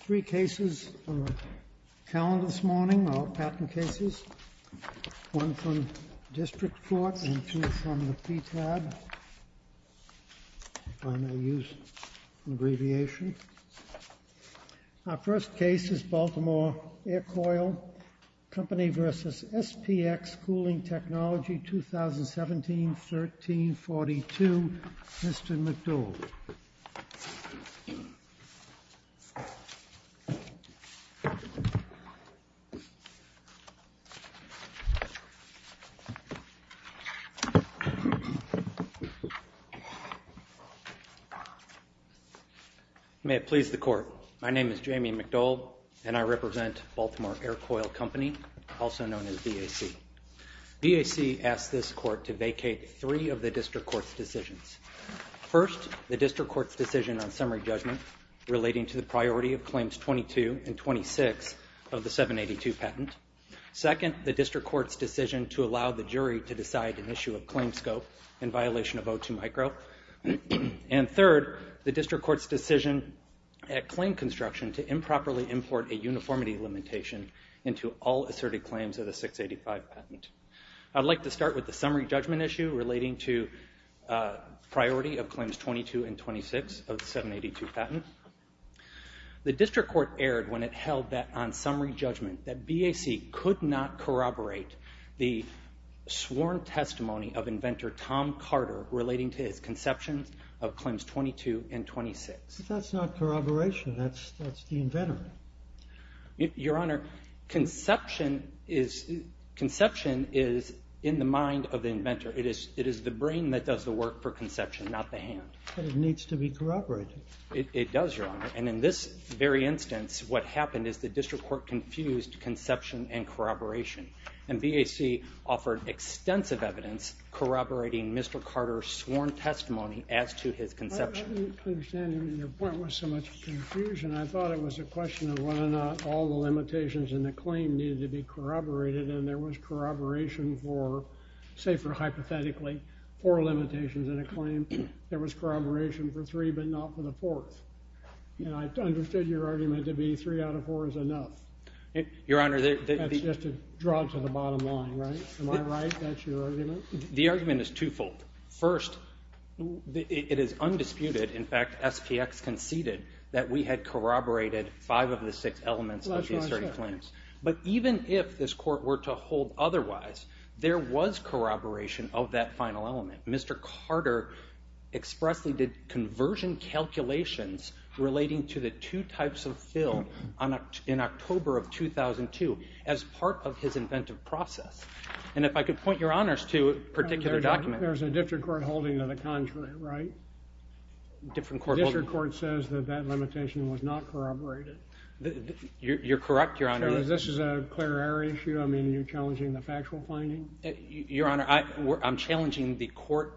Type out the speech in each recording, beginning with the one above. Three cases are on the calendar this morning, our patent cases. One from District Court and two from the PTAB, if I may use an abbreviation. Our first case is Baltimore Aircoil Company v. SPX Cooling Technology 2017-13-42, Mr. McDowell. May it please the Court, my name is Jamie McDowell and I represent Baltimore Aircoil Company, also known as VAC. VAC asked this Court to vacate three of the District Court's decisions. First, the District Court's decision on summary judgment relating to the priority of claims 22 and 26 of the 782 patent. Second, the District Court's decision to allow the jury to decide an issue of claim scope in violation of O2 micro. And third, the District Court's decision at claim construction to improperly import a uniformity limitation into all asserted claims of the 685 patent. I'd like to start with the summary judgment issue relating to priority of claims 22 and 26 of the 782 patent. The District Court erred when it held that on summary judgment that VAC could not corroborate the sworn testimony of inventor Tom Carter relating to his conceptions of claims 22 and 26. But that's not corroboration, that's the inventor. Your Honor, conception is in the mind of the inventor. It is the brain that does the work for conception, not the hand. But it needs to be corroborated. It does, Your Honor. And in this very instance, what happened is the District Court confused conception and corroboration. And VAC offered extensive evidence corroborating Mr. Carter's sworn testimony as to his conception. I didn't understand your point with so much confusion. I thought it was a question of whether or not all the limitations in the claim needed to be corroborated. And there was corroboration for, say for hypothetically, four limitations in a claim. There was corroboration for three but not for the fourth. I understood your argument to be three out of four is enough. Your Honor. That's just a draw to the bottom line, right? Am I right? That's your argument? The argument is twofold. First, it is undisputed. In fact, SPX conceded that we had corroborated five of the six elements of the asserted claims. But even if this court were to hold otherwise, there was corroboration of that final element. Mr. Carter expressly did conversion calculations relating to the two types of fill in October of 2002 as part of his inventive process. And if I could point your honors to a particular document. There's a district court holding of the contrary, right? District court says that that limitation was not corroborated. You're correct, Your Honor. So this is a clear error issue? I mean, you're challenging the factual finding? Your Honor, I'm challenging the court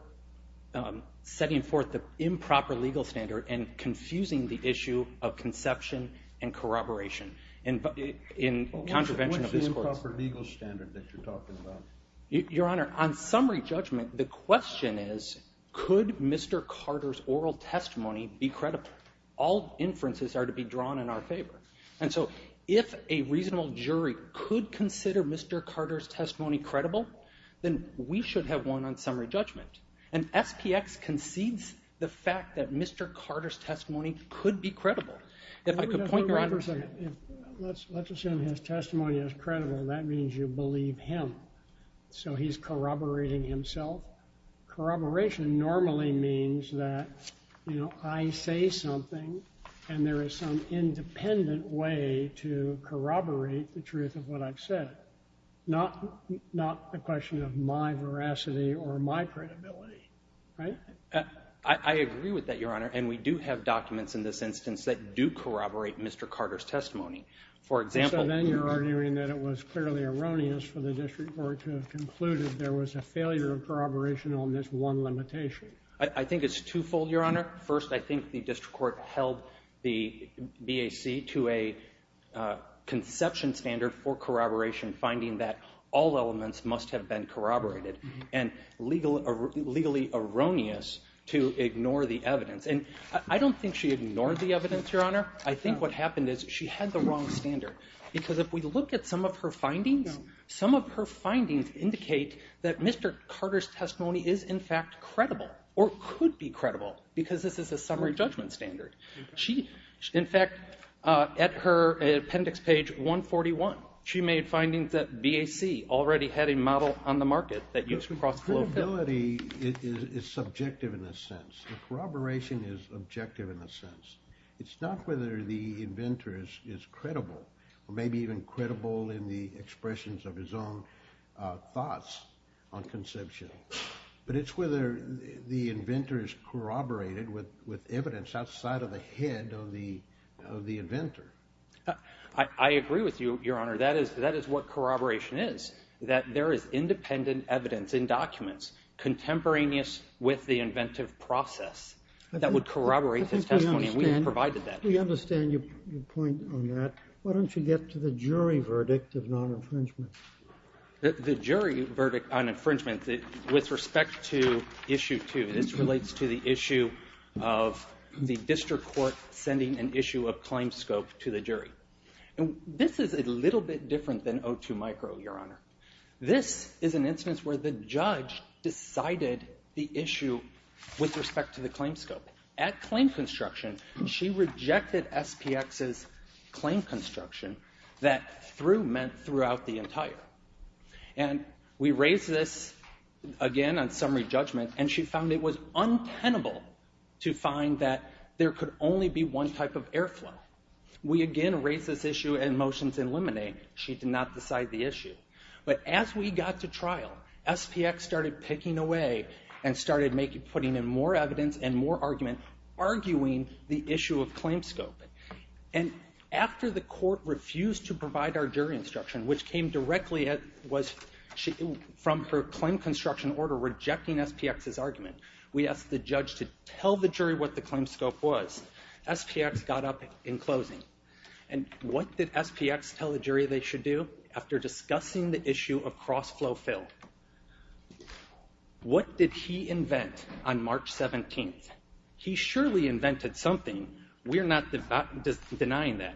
setting forth the improper legal standard and confusing the issue of conception and corroboration in contravention of this court's. Improper legal standard that you're talking about. Your Honor, on summary judgment, the question is, could Mr. Carter's oral testimony be credible? All inferences are to be drawn in our favor. And so if a reasonable jury could consider Mr. Carter's testimony credible, then we should have one on summary judgment. And SPX concedes the fact that Mr. Carter's testimony could be credible. Let's assume his testimony is credible. That means you believe him. So he's corroborating himself. Corroboration normally means that, you know, I say something and there is some independent way to corroborate the truth of what I've said. Not a question of my veracity or my credibility, right? I agree with that, Your Honor. And we do have documents in this instance that do corroborate Mr. Carter's testimony. So then you're arguing that it was clearly erroneous for the district court to have concluded there was a failure of corroboration on this one limitation. I think it's twofold, Your Honor. First, I think the district court held the BAC to a conception standard for corroboration, finding that all elements must have been corroborated, and legally erroneous to ignore the evidence. And I don't think she ignored the evidence, Your Honor. I think what happened is she had the wrong standard, because if we look at some of her findings, some of her findings indicate that Mr. Carter's testimony is in fact credible or could be credible because this is a summary judgment standard. In fact, at her appendix page 141, she made findings that BAC already had a model on the market that used cross-flow. Credibility is subjective in a sense. Corroboration is objective in a sense. It's not whether the inventor is credible or maybe even credible in the expressions of his own thoughts on conception, but it's whether the inventor is corroborated with evidence outside of the head of the inventor. I agree with you, Your Honor. That is what corroboration is, that there is independent evidence in documents contemporaneous with the inventive process that would corroborate his testimony, and we provided that. We understand your point on that. Why don't you get to the jury verdict of non-infringement? The jury verdict on infringement, with respect to Issue 2, this relates to the issue of the district court sending an issue of claim scope to the jury. This is a little bit different than O2 Micro, Your Honor. This is an instance where the judge decided the issue with respect to the claim scope. At claim construction, she rejected SPX's claim construction that through meant throughout the entire. And we raised this again on summary judgment, and she found it was untenable to find that there could only be one type of airflow. We again raised this issue in motions in Lemonade. She did not decide the issue. But as we got to trial, SPX started picking away and started putting in more evidence and more argument, arguing the issue of claim scope. And after the court refused to provide our jury instruction, which came directly from her claim construction order rejecting SPX's argument, we asked the judge to tell the jury what the claim scope was. SPX got up in closing. And what did SPX tell the jury they should do? After discussing the issue of cross-flow fill, what did he invent on March 17th? He surely invented something. We're not denying that.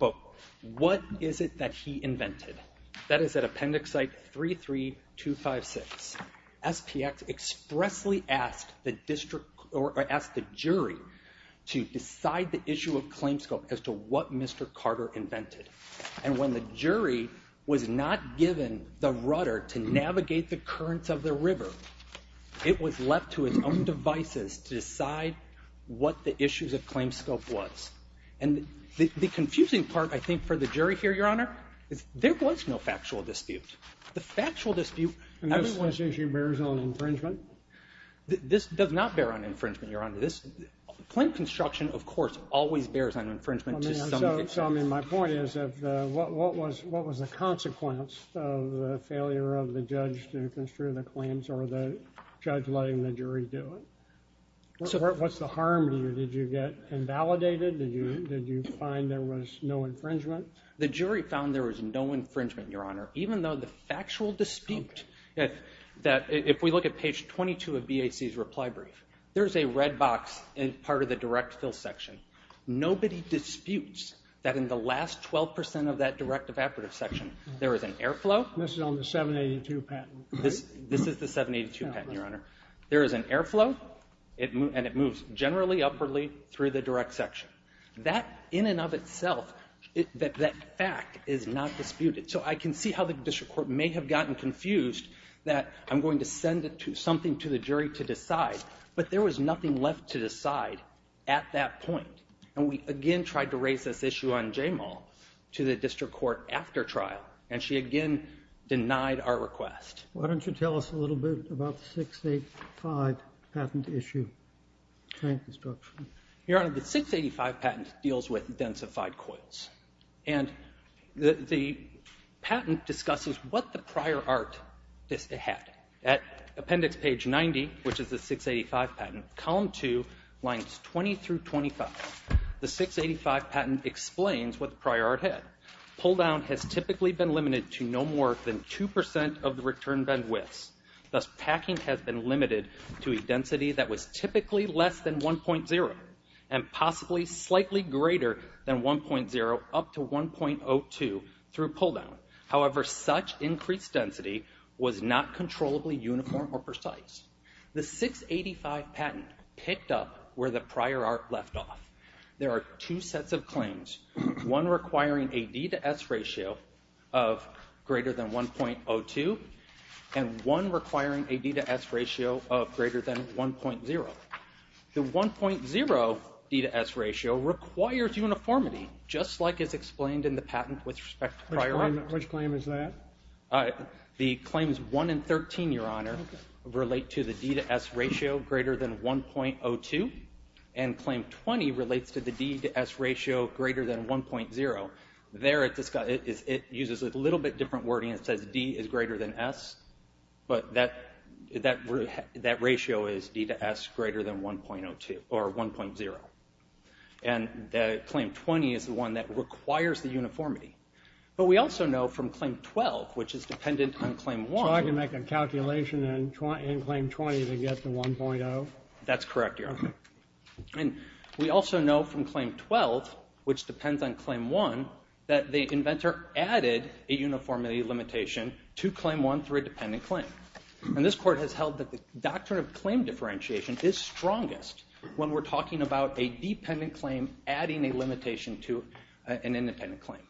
But what is it that he invented? That is at appendix site 33256. SPX expressly asked the jury to decide the issue of claim scope as to what Mr. Carter invented. And when the jury was not given the rudder to navigate the currents of the river, it was left to its own devices to decide what the issue of claim scope was. And the confusing part, I think, for the jury here, Your Honor, is there was no factual dispute. The factual dispute of this issue bears on infringement. This does not bear on infringement, Your Honor. Claim construction, of course, always bears on infringement to some extent. My point is, what was the consequence of the failure of the judge to construe the claims or the judge letting the jury do it? What's the harm to you? Did you get invalidated? Did you find there was no infringement? The jury found there was no infringement, Your Honor, even though the factual dispute, if we look at page 22 of BAC's reply brief, there's a red box as part of the direct fill section. Nobody disputes that in the last 12% of that direct evaporative section, there is an airflow. This is on the 782 patent. This is the 782 patent, Your Honor. There is an airflow, and it moves generally upwardly through the direct section. That in and of itself, that fact is not disputed. So I can see how the district court may have gotten confused that I'm going to send something to the jury to decide, but there was nothing left to decide at that point, and we again tried to raise this issue on Jamal to the district court after trial, and she again denied our request. Why don't you tell us a little bit about the 685 patent issue? Your Honor, the 685 patent deals with densified coils, and the patent discusses what the prior art had. At appendix page 90, which is the 685 patent, column 2, lines 20 through 25, the 685 patent explains what the prior art had. Pull-down has typically been limited to no more than 2% of the return bend widths. Thus, packing has been limited to a density that was typically less than 1.0 and possibly slightly greater than 1.0 up to 1.02 through pull-down. However, such increased density was not controllably uniform or precise. The 685 patent picked up where the prior art left off. There are two sets of claims, one requiring a D to S ratio of greater than 1.02 and one requiring a D to S ratio of greater than 1.0. The 1.0 D to S ratio requires uniformity, just like is explained in the patent with respect to prior art. Which claim is that? The claims 1 and 13, Your Honor, relate to the D to S ratio greater than 1.02, and claim 20 relates to the D to S ratio greater than 1.0. There it uses a little bit different wording. It says D is greater than S, but that ratio is D to S greater than 1.02 or 1.0. And claim 20 is the one that requires the uniformity. But we also know from claim 12, which is dependent on claim 1. So I can make a calculation in claim 20 to get to 1.0? That's correct, Your Honor. And we also know from claim 12, which depends on claim 1, that the inventor added a uniformity limitation to claim 1 through a dependent claim. And this Court has held that the doctrine of claim differentiation is strongest when we're talking about a dependent claim adding a limitation to an independent claim.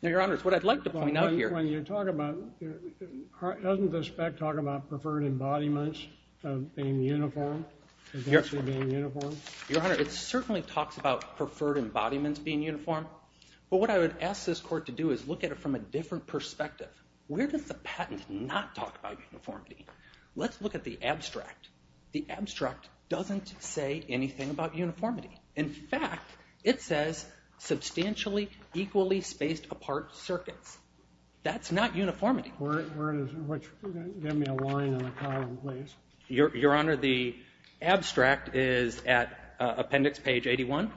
Now, Your Honor, it's what I'd like to point out here. Doesn't the spec talk about preferred embodiments being uniform? Your Honor, it certainly talks about preferred embodiments being uniform. But what I would ask this Court to do is look at it from a different perspective. Where does the patent not talk about uniformity? Let's look at the abstract. The abstract doesn't say anything about uniformity. In fact, it says substantially equally spaced apart circuits. That's not uniformity. Give me a line and a column, please. Your Honor, the abstract is at appendix page 81.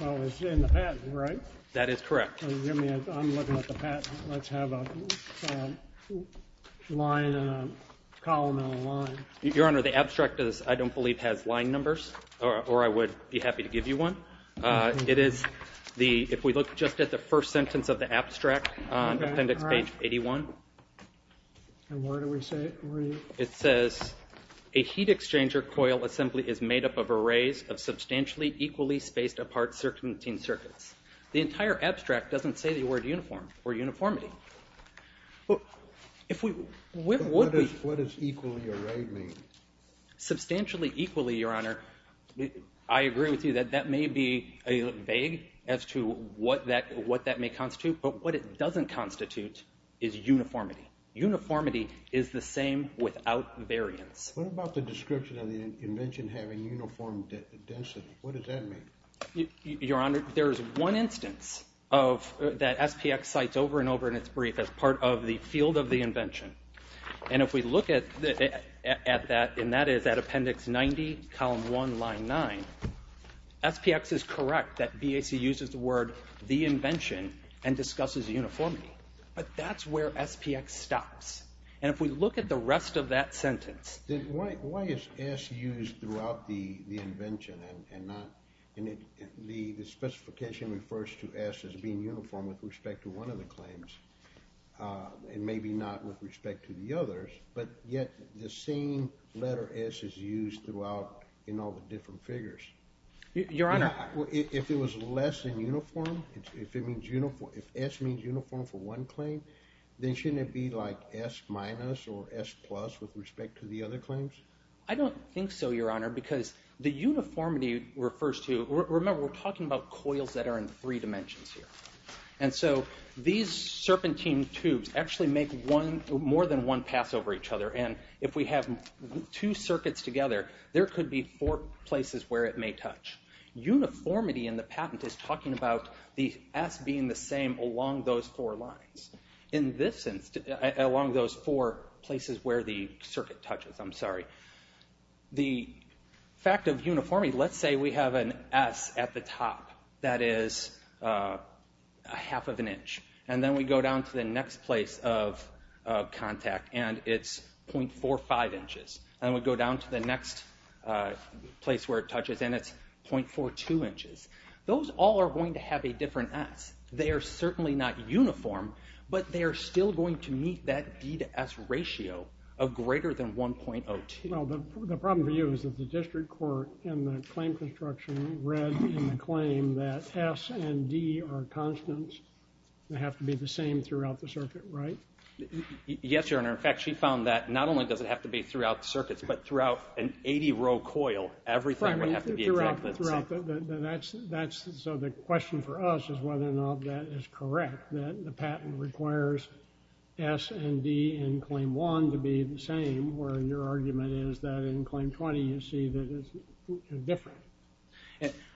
Well, it's in the patent, right? That is correct. I'm looking at the patent. Let's have a line and a column and a line. Your Honor, the abstract, I don't believe, has line numbers. Or I would be happy to give you one. It is, if we look just at the first sentence of the abstract, appendix page 81. And where do we see it? It says, a heat exchanger coil assembly is made up of arrays of substantially equally spaced apart circuiting circuits. The entire abstract doesn't say the word uniform or uniformity. What does equally array mean? Substantially equally, Your Honor, I agree with you that that may be vague as to what that may constitute. But what it doesn't constitute is uniformity. Uniformity is the same without variance. What about the description of the invention having uniform density? What does that mean? Your Honor, there is one instance that SPX cites over and over in its brief as part of the field of the invention. And if we look at that, and that is at appendix 90, column 1, line 9, SPX is correct that BAC uses the word the invention and discusses uniformity. But that's where SPX stops. And if we look at the rest of that sentence. Then why is S used throughout the invention and not in it? The specification refers to S as being uniform with respect to one of the claims and maybe not with respect to the others. But yet the same letter S is used throughout in all the different figures. Your Honor. If it was less than uniform, if S means uniform for one claim, then shouldn't it be like S minus or S plus with respect to the other claims? I don't think so, Your Honor, because the uniformity refers to, remember we're talking about coils that are in three dimensions here. And so these serpentine tubes actually make more than one pass over each other. And if we have two circuits together, there could be four places where it may touch. Uniformity in the patent is talking about the S being the same along those four lines. In this sense, along those four places where the circuit touches, I'm sorry. The fact of uniformity, let's say we have an S at the top that is a half of an inch. And then we go down to the next place of contact and it's 0.45 inches. And then we go down to the next place where it touches and it's 0.42 inches. Those all are going to have a different S. They are certainly not uniform, but they are still going to meet that D to S ratio of greater than 1.02. Well, the problem for you is that the district court in the claim construction read in the claim that S and D are constants and have to be the same throughout the circuit, right? Yes, Your Honor. In fact, she found that not only does it have to be throughout the circuits, but throughout an 80-row coil, everything would have to be exactly the same. So the question for us is whether or not that is correct, that the patent requires S and D in Claim 1 to be the same, where your argument is that in Claim 20 you see that it's different.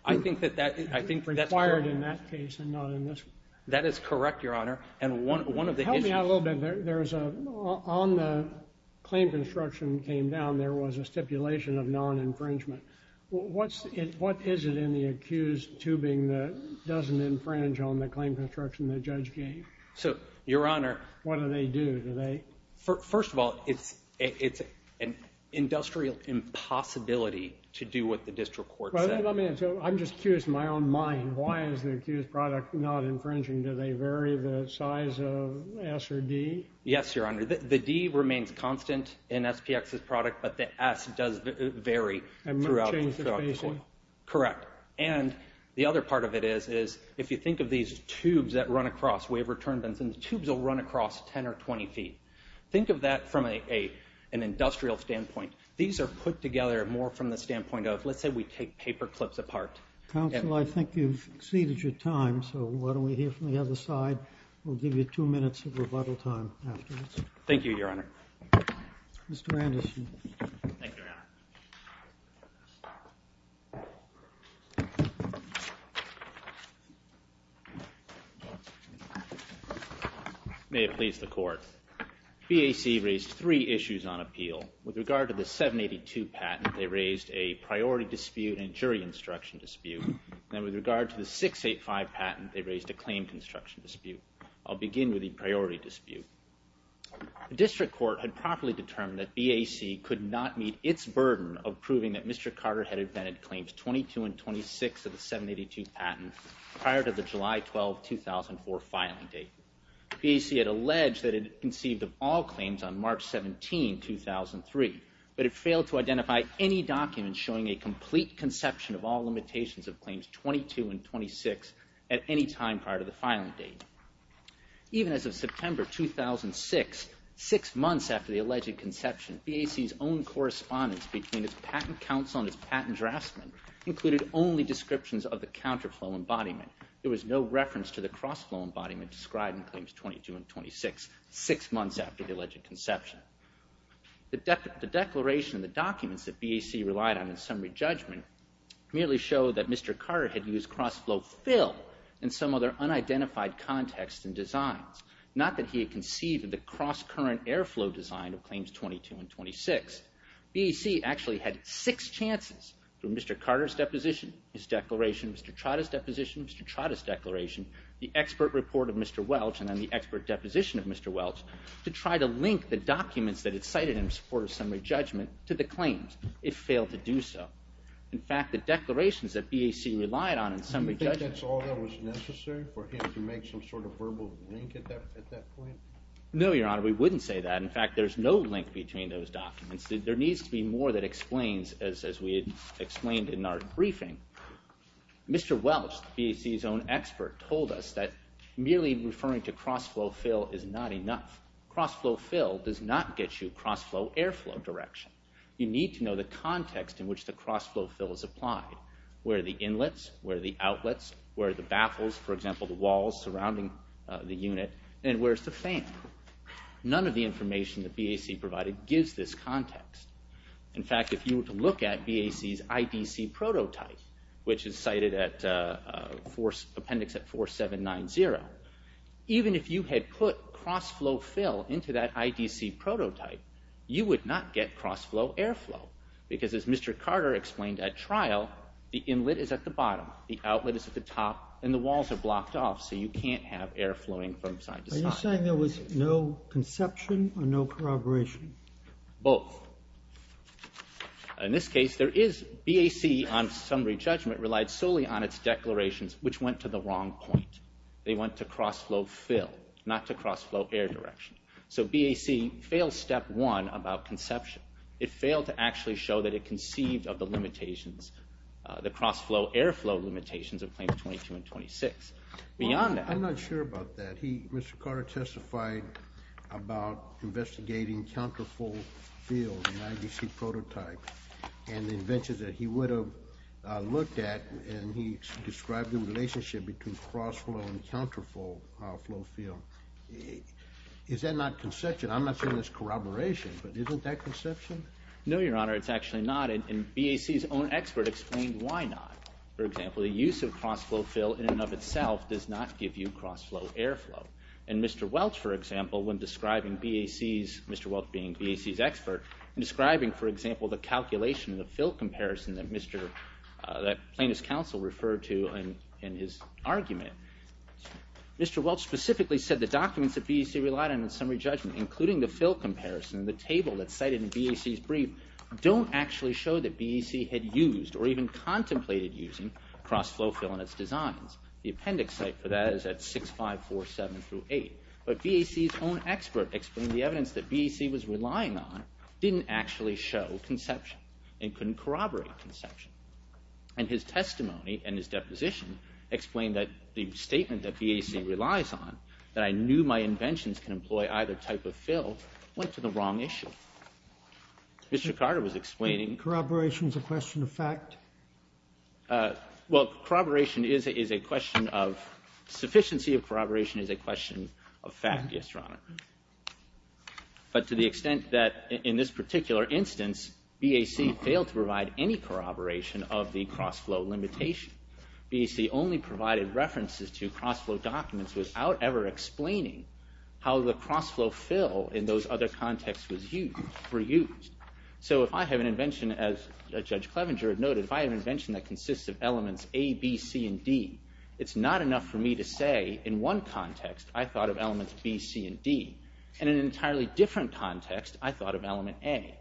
I think that's correct. Required in that case and not in this one. That is correct, Your Honor. Help me out a little bit. On the claim construction came down, there was a stipulation of non-infringement. What is it in the accused tubing that doesn't infringe on the claim construction the judge gave? Your Honor. What do they do? First of all, it's an industrial impossibility to do what the district court said. I'm just curious in my own mind, why is the accused product not infringing? Do they vary the size of S or D? Yes, Your Honor. The D remains constant in SPX's product, but the S does vary throughout the coil. And might change the spacing. Correct. And the other part of it is, if you think of these tubes that run across, the tubes will run across 10 or 20 feet. Think of that from an industrial standpoint. These are put together more from the standpoint of, let's say we take paper clips apart. Counsel, I think you've exceeded your time, so why don't we hear from the other side. We'll give you two minutes of rebuttal time afterwards. Thank you, Your Honor. Mr. Anderson. Thank you, Your Honor. May it please the court. BAC raised three issues on appeal. With regard to the 782 patent, they raised a priority dispute and jury instruction dispute. And with regard to the 685 patent, they raised a claim construction dispute. I'll begin with the priority dispute. The district court had properly determined that BAC could not meet its burden of proving that Mr. Carter had invented claims 22 and 26 of the 782 patent prior to the July 12, 2004 filing date. BAC had alleged that it conceived of all claims on March 17, 2003, but it failed to identify any documents showing a complete conception of all limitations of claims 22 and 26 at any time prior to the filing date. Even as of September 2006, six months after the alleged conception, BAC's own correspondence between its patent counsel and its patent draftsman included only descriptions of the counterflow embodiment. There was no reference to the crossflow embodiment described in claims 22 and 26 six months after the alleged conception. The declaration and the documents that BAC relied on in summary judgment merely showed that Mr. Carter had used crossflow fill and some other unidentified context and designs, not that he had conceived of the crosscurrent airflow design of claims 22 and 26. BAC actually had six chances, through Mr. Carter's deposition, his declaration, Mr. Trotta's deposition, Mr. Trotta's declaration, the expert report of Mr. Welch, and then the expert deposition of Mr. Welch, to try to link the documents that it cited in its first summary judgment to the claims. It failed to do so. In fact, the declarations that BAC relied on in summary judgment... You think that's all that was necessary for him to make some sort of verbal link at that point? No, Your Honor, we wouldn't say that. In fact, there's no link between those documents. There needs to be more that explains, as we had explained in our briefing. Mr. Welch, BAC's own expert, told us that merely referring to crossflow fill is not enough. Crossflow fill does not get you crossflow airflow direction. You need to know the context in which the crossflow fill is applied. Where are the inlets? Where are the outlets? Where are the baffles, for example, the walls surrounding the unit? And where's the fan? None of the information that BAC provided gives this context. In fact, if you were to look at BAC's IDC prototype, which is cited at Appendix 4790, even if you had put crossflow fill into that IDC prototype, you would not get crossflow airflow, because as Mr. Carter explained at trial, the inlet is at the bottom, the outlet is at the top, and the walls are blocked off, so you can't have air flowing from side to side. Are you saying there was no conception or no corroboration? Both. In this case, there is... BAC on summary judgment relied solely on its declarations, which went to the wrong point. They went to crossflow fill, not to crossflow air direction. So BAC failed step one about conception. It failed to actually show that it conceived of the limitations, the crossflow airflow limitations of Claims 22 and 26. Beyond that... I'm not sure about that. Mr. Carter testified about investigating counterflow fill in an IDC prototype, and the inventions that he would have looked at, and he described the relationship between crossflow and counterflow fill. Is that not conception? I'm not saying it's corroboration, but isn't that conception? No, Your Honor, it's actually not, and BAC's own expert explained why not. For example, the use of crossflow fill in and of itself does not give you crossflow airflow. And Mr. Welch, for example, when describing BAC's... Mr. Welch being BAC's expert, describing, for example, the calculation, the fill comparison that Plaintiff's counsel referred to in his argument, Mr. Welch specifically said the documents that BAC relied on in summary judgment, including the fill comparison, the table that's cited in BAC's brief, don't actually show that BAC had used or even contemplated using crossflow fill in its designs. The appendix site for that is at 6547-8. But BAC's own expert explained the evidence that BAC was relying on didn't actually show conception and couldn't corroborate conception. And his testimony and his deposition explained that the statement that BAC relies on, that I knew my inventions can employ either type of fill, went to the wrong issue. Mr. Carter was explaining... Is corroboration a question of fact? Well, corroboration is a question of... Sufficiency of corroboration is a question of fact, yes, Your Honor. But to the extent that in this particular instance, BAC failed to provide any corroboration of the crossflow limitation. BAC only provided references to crossflow documents without ever explaining how the crossflow fill in those other contexts were used. So if I have an invention, as Judge Clevenger had noted, if I have an invention that consists of elements A, B, C, and D, it's not enough for me to say, in one context, I thought of elements B, C, and D. In an entirely different context, I thought of element A.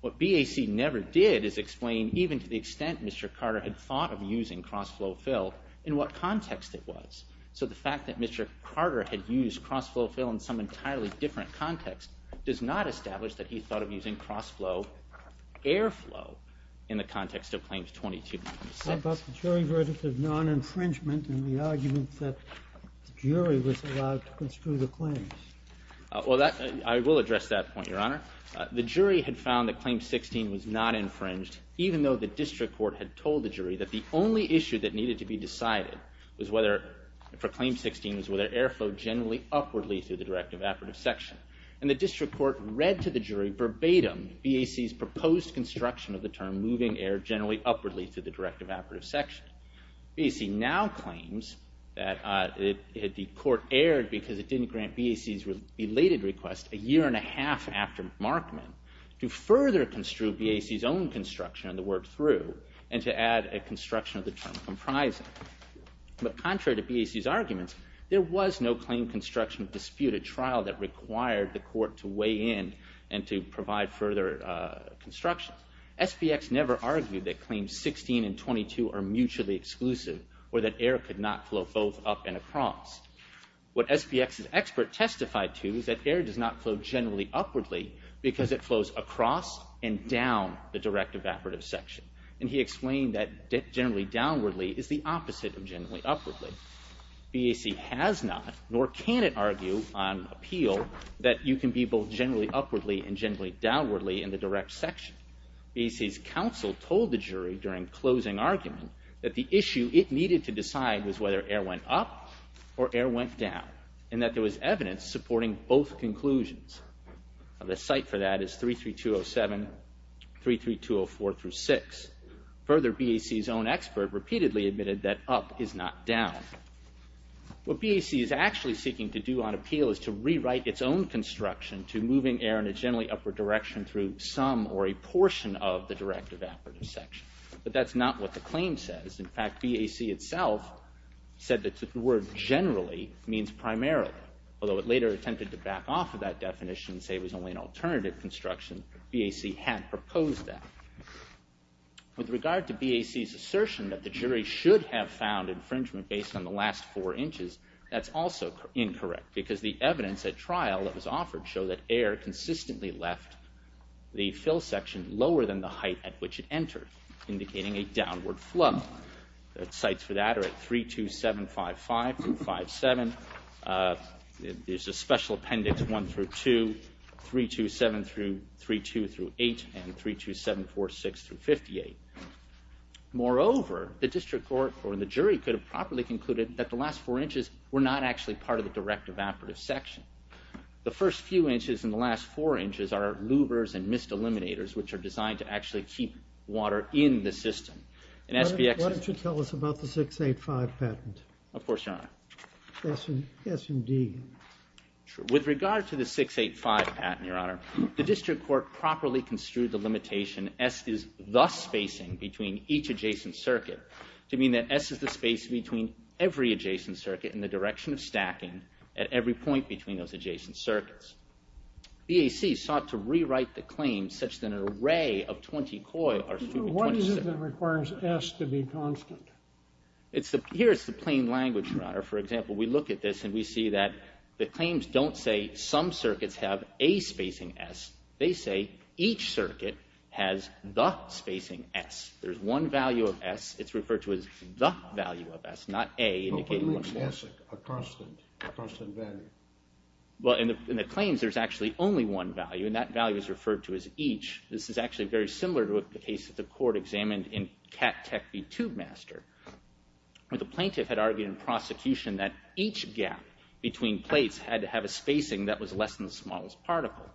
What BAC never did is explain, even to the extent Mr. Carter had thought of using crossflow fill, in what context it was. So the fact that Mr. Carter had used crossflow fill in some entirely different context does not establish that he thought of using crossflow airflow in the context of Claims 22.6. But the jury verdict of non-infringement and the argument that the jury was allowed to construe the claims. Well, I will address that point, Your Honor. The jury had found that Claim 16 was not infringed, even though the district court had told the jury that the only issue that needed to be decided for Claim 16 was whether air flowed generally upwardly through the direct evaporative section. And the district court read to the jury, verbatim, BAC's proposed construction of the term moving air generally upwardly through the direct evaporative section. BAC now claims that the court aired because it didn't grant BAC's related request a year and a half after Markman to further construe BAC's own construction and to work through and to add a construction of the term comprising. But contrary to BAC's arguments, there was no claim construction dispute, a trial that required the court to weigh in and to provide further construction. SPX never argued that Claims 16 and 22 are mutually exclusive or that air could not flow both up and across. What SPX's expert testified to is that air does not flow generally upwardly because it flows across and down the direct evaporative section. And he explained that generally downwardly is the opposite of generally upwardly. BAC has not, nor can it argue on appeal, that you can be both generally upwardly and generally downwardly in the direct section. BAC's counsel told the jury during closing argument that the issue it needed to decide was whether air went up or air went down and that there was evidence supporting both conclusions. The site for that is 33207, 33204-6. Further, BAC's own expert repeatedly admitted that up is not down. What BAC is actually seeking to do on appeal is to rewrite its own construction to moving air in a generally upward direction through some or a portion of the direct evaporative section. But that's not what the claim says. In fact, BAC itself said that the word generally means primarily. Although it later attempted to back off of that definition and say it was only an alternative construction, BAC had proposed that. With regard to BAC's assertion that the jury should have found infringement based on the last four inches, that's also incorrect because the evidence at trial that was offered showed that air consistently left the fill section lower than the height at which it entered, indicating a downward flow. The sites for that are at 32755-57. There's a special appendix 1-2, 327-32-8, and 32746-58. Moreover, the district court or the jury could have properly concluded that the last four inches were not actually part of the direct evaporative section. The first few inches and the last four inches are louvers and mist eliminators, which are designed to actually keep water in the system. Why don't you tell us about the 685 patent? Of course, Your Honor. S and D. With regard to the 685 patent, Your Honor, the district court properly construed the limitation S is the spacing between each adjacent circuit to mean that S is the space between every adjacent circuit in the direction of stacking at every point between those adjacent circuits. BAC sought to rewrite the claim such that an array of 20 coils are suited to 26. What is it that requires S to be constant? Here is the plain language, Your Honor. For example, we look at this and we see that the claims don't say some circuits have a spacing S. They say each circuit has the spacing S. There's one value of S. It's referred to as the value of S, not A, but what makes S a constant value? Well, in the claims, there's actually only one value, and that value is referred to as each. This is actually very similar to the case that the court examined in Cat Tech v. Tube Master, where the plaintiff had argued in prosecution that each gap between plates had to have a spacing that was less than the smallest particle.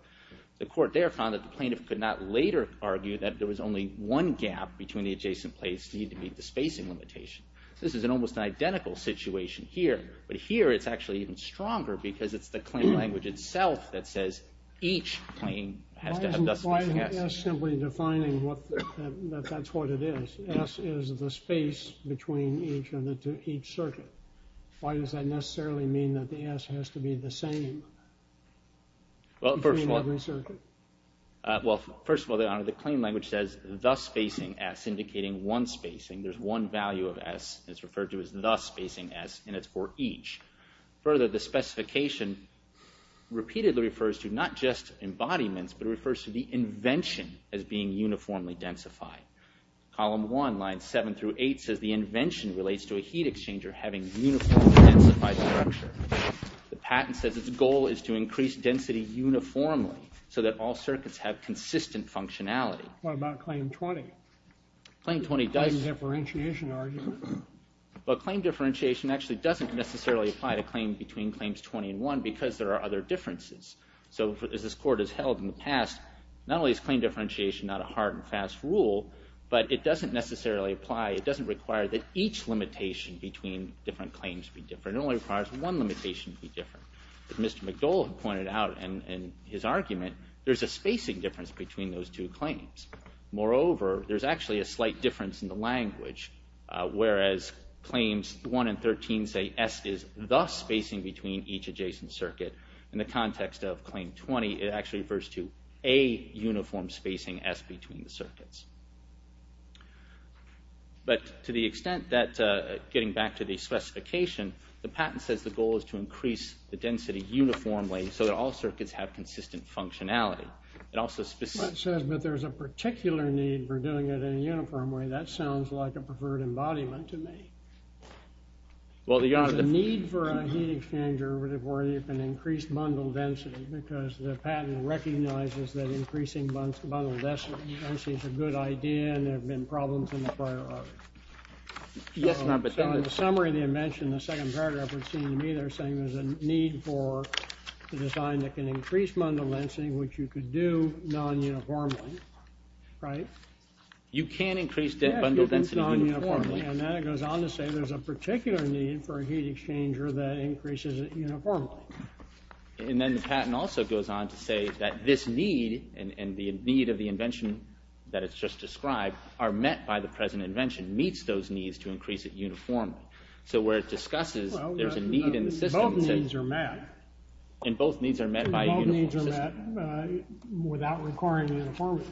The court there found that the plaintiff could not later argue that there was only one gap between the adjacent plates needed to meet the spacing limitation. This is an almost identical situation here, but here it's actually even stronger because it's the plain language itself that says each plain has to have the spacing S. Why isn't S simply defining that that's what it is? S is the space between each circuit. Why does that necessarily mean that the S has to be the same between every circuit? Well, first of all, Your Honor, the plain language says the spacing S, indicating one spacing. There's one value of S that's referred to as the spacing S, and it's for each. Further, the specification repeatedly refers to not just embodiments, but it refers to the invention as being uniformly densified. Column 1, lines 7 through 8 says the invention relates to a heat exchanger having uniformly densified structure. The patent says its goal is to increase density uniformly so that all circuits have consistent functionality. What about claim 20? Claim 20 does... Claim differentiation argument? Well, claim differentiation actually doesn't necessarily apply to claim between claims 20 and 1 because there are other differences. So as this Court has held in the past, not only is claim differentiation not a hard and fast rule, but it doesn't necessarily apply, it doesn't require that each limitation between different claims be different. It only requires one limitation to be different. As Mr. McDowell pointed out in his argument, there's a spacing difference between those two claims. Moreover, there's actually a slight difference in the language whereas claims 1 and 13 say S is the spacing between each adjacent circuit. In the context of claim 20, it actually refers to a uniform spacing S between the circuits. But to the extent that... Getting back to the specification, the patent says the goal is to increase the density uniformly so that all circuits have consistent functionality. It says that there's a particular need for doing it in a uniform way. That sounds like a preferred embodiment to me. There's a need for a heat exchanger where you can increase bundle density because the patent recognizes that increasing bundle density is a good idea and there have been problems in the prior order. So in the summary of the invention, the second paragraph would seem to me there's a need for a design that can increase bundle density which you could do non-uniformly, right? You can increase bundle density uniformly. And then it goes on to say there's a particular need for a heat exchanger that increases it uniformly. And then the patent also goes on to say that this need and the need of the invention that it's just described are met by the present invention meets those needs to increase it uniformly. So where it discusses there's a need in the system... Both needs are met. And both needs are met by a uniform system. Both needs are met without requiring uniformity.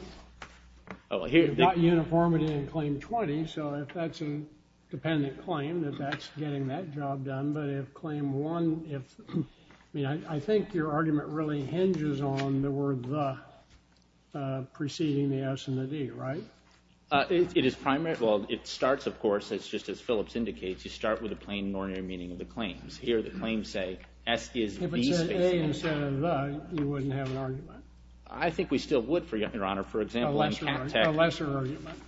You've got uniformity in Claim 20, so if that's a dependent claim that that's getting that job done, but if Claim 1... I mean, I think your argument really hinges on the word the preceding the S and the D, right? It is primary... Well, it starts, of course, it's just as Phillips indicates, you start with a plain ordinary meaning of the claims. Here the claims say S is V-spacing. If it said A instead of the, you wouldn't have an argument. I think we still would, Your Honor. A lesser argument.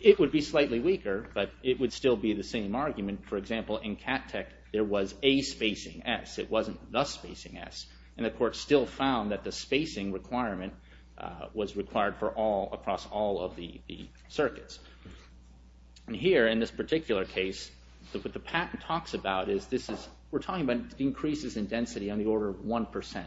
It would be slightly weaker, but it would still be the same argument. For example, in CATTEC, there was A spacing S. It wasn't the spacing S. And the court still found that the spacing requirement was required across all of the circuits. And here, in this particular case, what the patent talks about is this is... We're talking about increases in density on the order of 1%.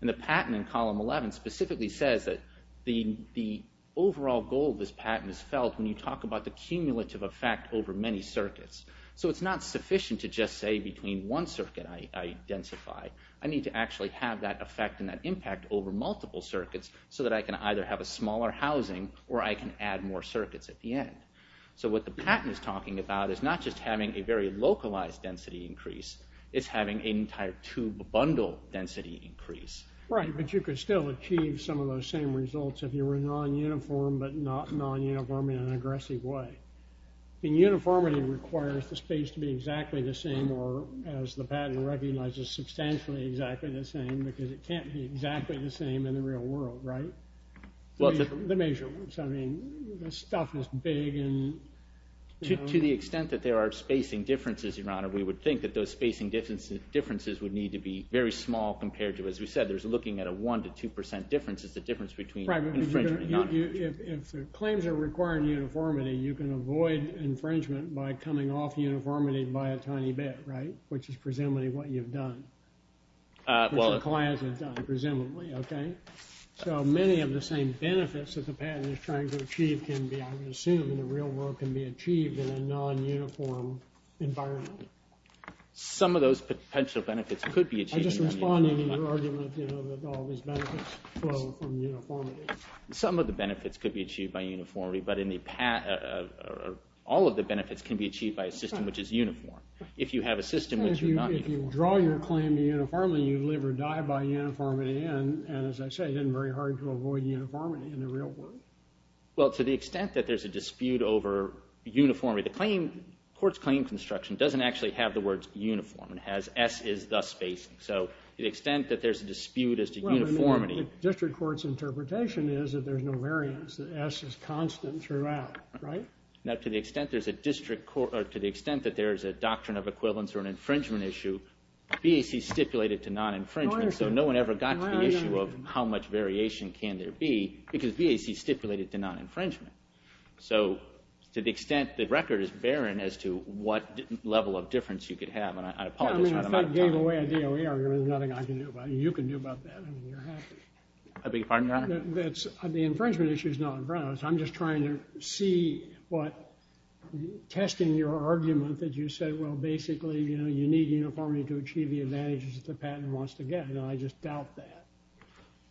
And the patent in column 11 specifically says that the overall goal of this patent is felt when you talk about the cumulative effect over many circuits. So it's not sufficient to just say between one circuit I densify. I need to actually have that effect and that impact over multiple circuits so that I can either have a smaller housing or I can add more circuits at the end. So what the patent is talking about is not just having a very localized density increase. It's having an entire tube bundle density increase. Right, but you could still achieve some of those same results if you were non-uniform, but not non-uniform in an aggressive way. And uniformity requires the space to be exactly the same or, as the patent recognizes, substantially exactly the same because it can't be exactly the same in the real world, right? The measurements. I mean, the stuff is big and... To the extent that there are spacing differences, Your Honor, we would think that those spacing differences would need to be very small compared to, as we said, there's looking at a 1% to 2% difference. It's the difference between infringement and non-infringement. Right, but if the claims are requiring uniformity, you can avoid infringement by coming off uniformity by a tiny bit, right? Which is presumably what you've done. Which the client has done, presumably, okay? So many of the same benefits that the patent is trying to achieve can be, I would assume, in the real world, can be achieved in a non-uniform environment. Some of those potential benefits could be achieved... I'm just responding to your argument, you know, that all these benefits flow from uniformity. Some of the benefits could be achieved by uniformity, but all of the benefits can be achieved by a system which is uniform. If you have a system which is not... If you draw your claim uniformly, you live or die by uniformity, and, as I say, it isn't very hard to avoid uniformity in the real world. Well, to the extent that there's a dispute over uniformity... The court's claim construction doesn't actually have the words uniform. It has S is thus spacing. So to the extent that there's a dispute as to uniformity... Well, the district court's interpretation is that there's no variance, that S is constant throughout, right? Now, to the extent that there's a doctrine of equivalence or an infringement issue, BAC stipulated to non-infringement, so no one ever got to the issue of how much variation can there be because BAC stipulated to non-infringement. So to the extent the record is barren as to what level of difference you could have, and I apologize for running out of time. I gave away a DOE argument. There's nothing I can do about it. You can do about that. I mean, you're happy. I beg your pardon, Your Honor? The infringement issue is not on grounds. I'm just trying to see what... Testing your argument that you said, well, basically, you know, to achieve the advantages that the patent wants to get, and I just doubt that.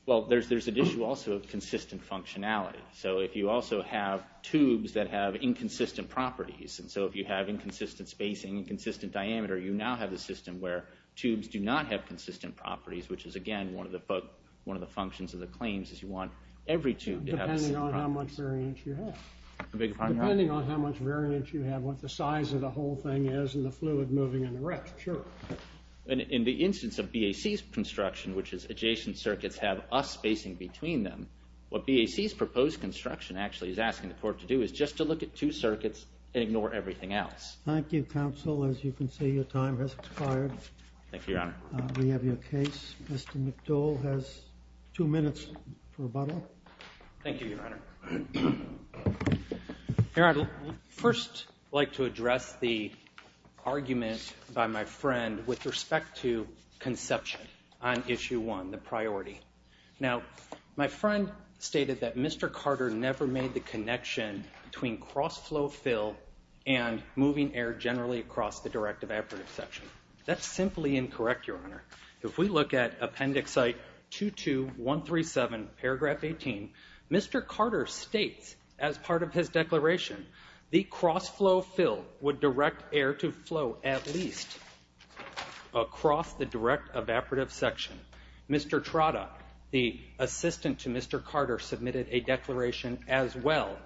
Well, there's an issue also of consistent functionality. So if you also have tubes that have inconsistent properties, and so if you have inconsistent spacing, inconsistent diameter, you now have a system where tubes do not have consistent properties, which is, again, one of the functions of the claims is you want every tube to have... Depending on how much variance you have. I beg your pardon, Your Honor? Depending on how much variance you have, and what the size of the whole thing is, and the fluid moving in the rest. Sure. In the instance of BAC's construction, which is adjacent circuits have us spacing between them, what BAC's proposed construction actually is asking the court to do is just to look at two circuits and ignore everything else. Thank you, counsel. As you can see, your time has expired. Thank you, Your Honor. We have your case. Mr. McDowell has two minutes for rebuttal. Thank you, Your Honor. Your Honor, I'd first like to address the argument by my friend with respect to conception on Issue 1, the priority. Now, my friend stated that Mr. Carter never made the connection between cross-flow fill and moving air generally across the direct evaporative section. That's simply incorrect, Your Honor. If we look at Appendix Site 22137, Paragraph 18, Mr. Carter states as part of his declaration, the cross-flow fill would direct air to flow at least across the direct evaporative section. Mr. Trotta, the assistant to Mr. Carter, submitted a declaration as well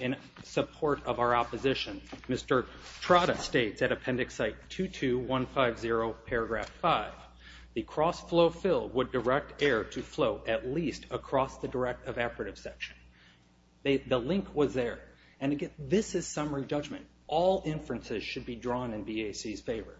in support of our opposition. Mr. Trotta states at Appendix Site 22150, Paragraph 5, the cross-flow fill would direct air to flow at least across the direct evaporative section. The link was there. And again, this is summary judgment. All inferences should be drawn in BAC's favor.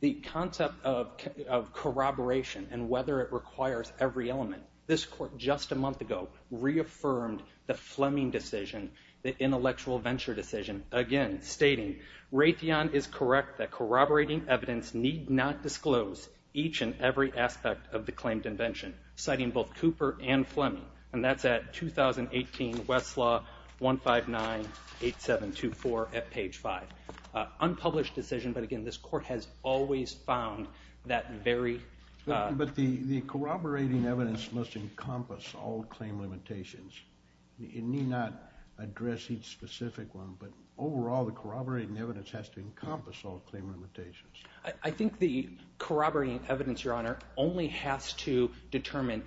The concept of corroboration and whether it requires every element, this Court just a month ago reaffirmed the Fleming decision, the intellectual venture decision, again stating, Raytheon is correct that corroborating evidence need not disclose each and every aspect of the claimed invention, citing both Cooper and Fleming. And that's at 2018 Westlaw 1598724 at page 5. Unpublished decision, but again, this Court has always found that very... But the corroborating evidence must encompass all claim limitations. It need not address each specific one, but overall the corroborating evidence has to encompass all claim limitations. I think the corroborating evidence, Your Honor, only has to determine,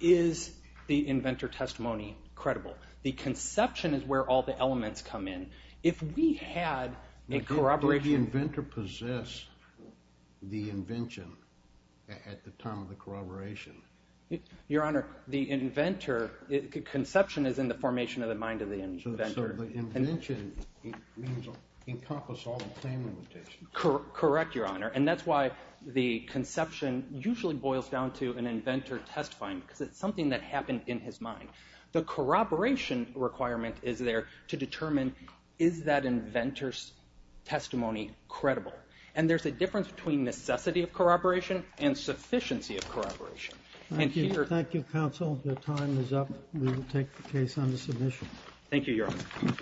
is the inventor testimony credible? The conception is where all the elements come in. If we had a corroboration... Did the inventor possess the invention at the time of the corroboration? Your Honor, the inventor... The conception is in the formation of the mind of the inventor. So the invention means encompass all the claim limitations. Correct, Your Honor. And that's why the conception usually boils down to an inventor testifying, because it's something that happened in his mind. The corroboration requirement is there to determine, is that inventor's testimony credible? And there's a difference between necessity of corroboration and sufficiency of corroboration. Thank you, counsel. Your time is up. We will take the case under submission. Thank you, Your Honor.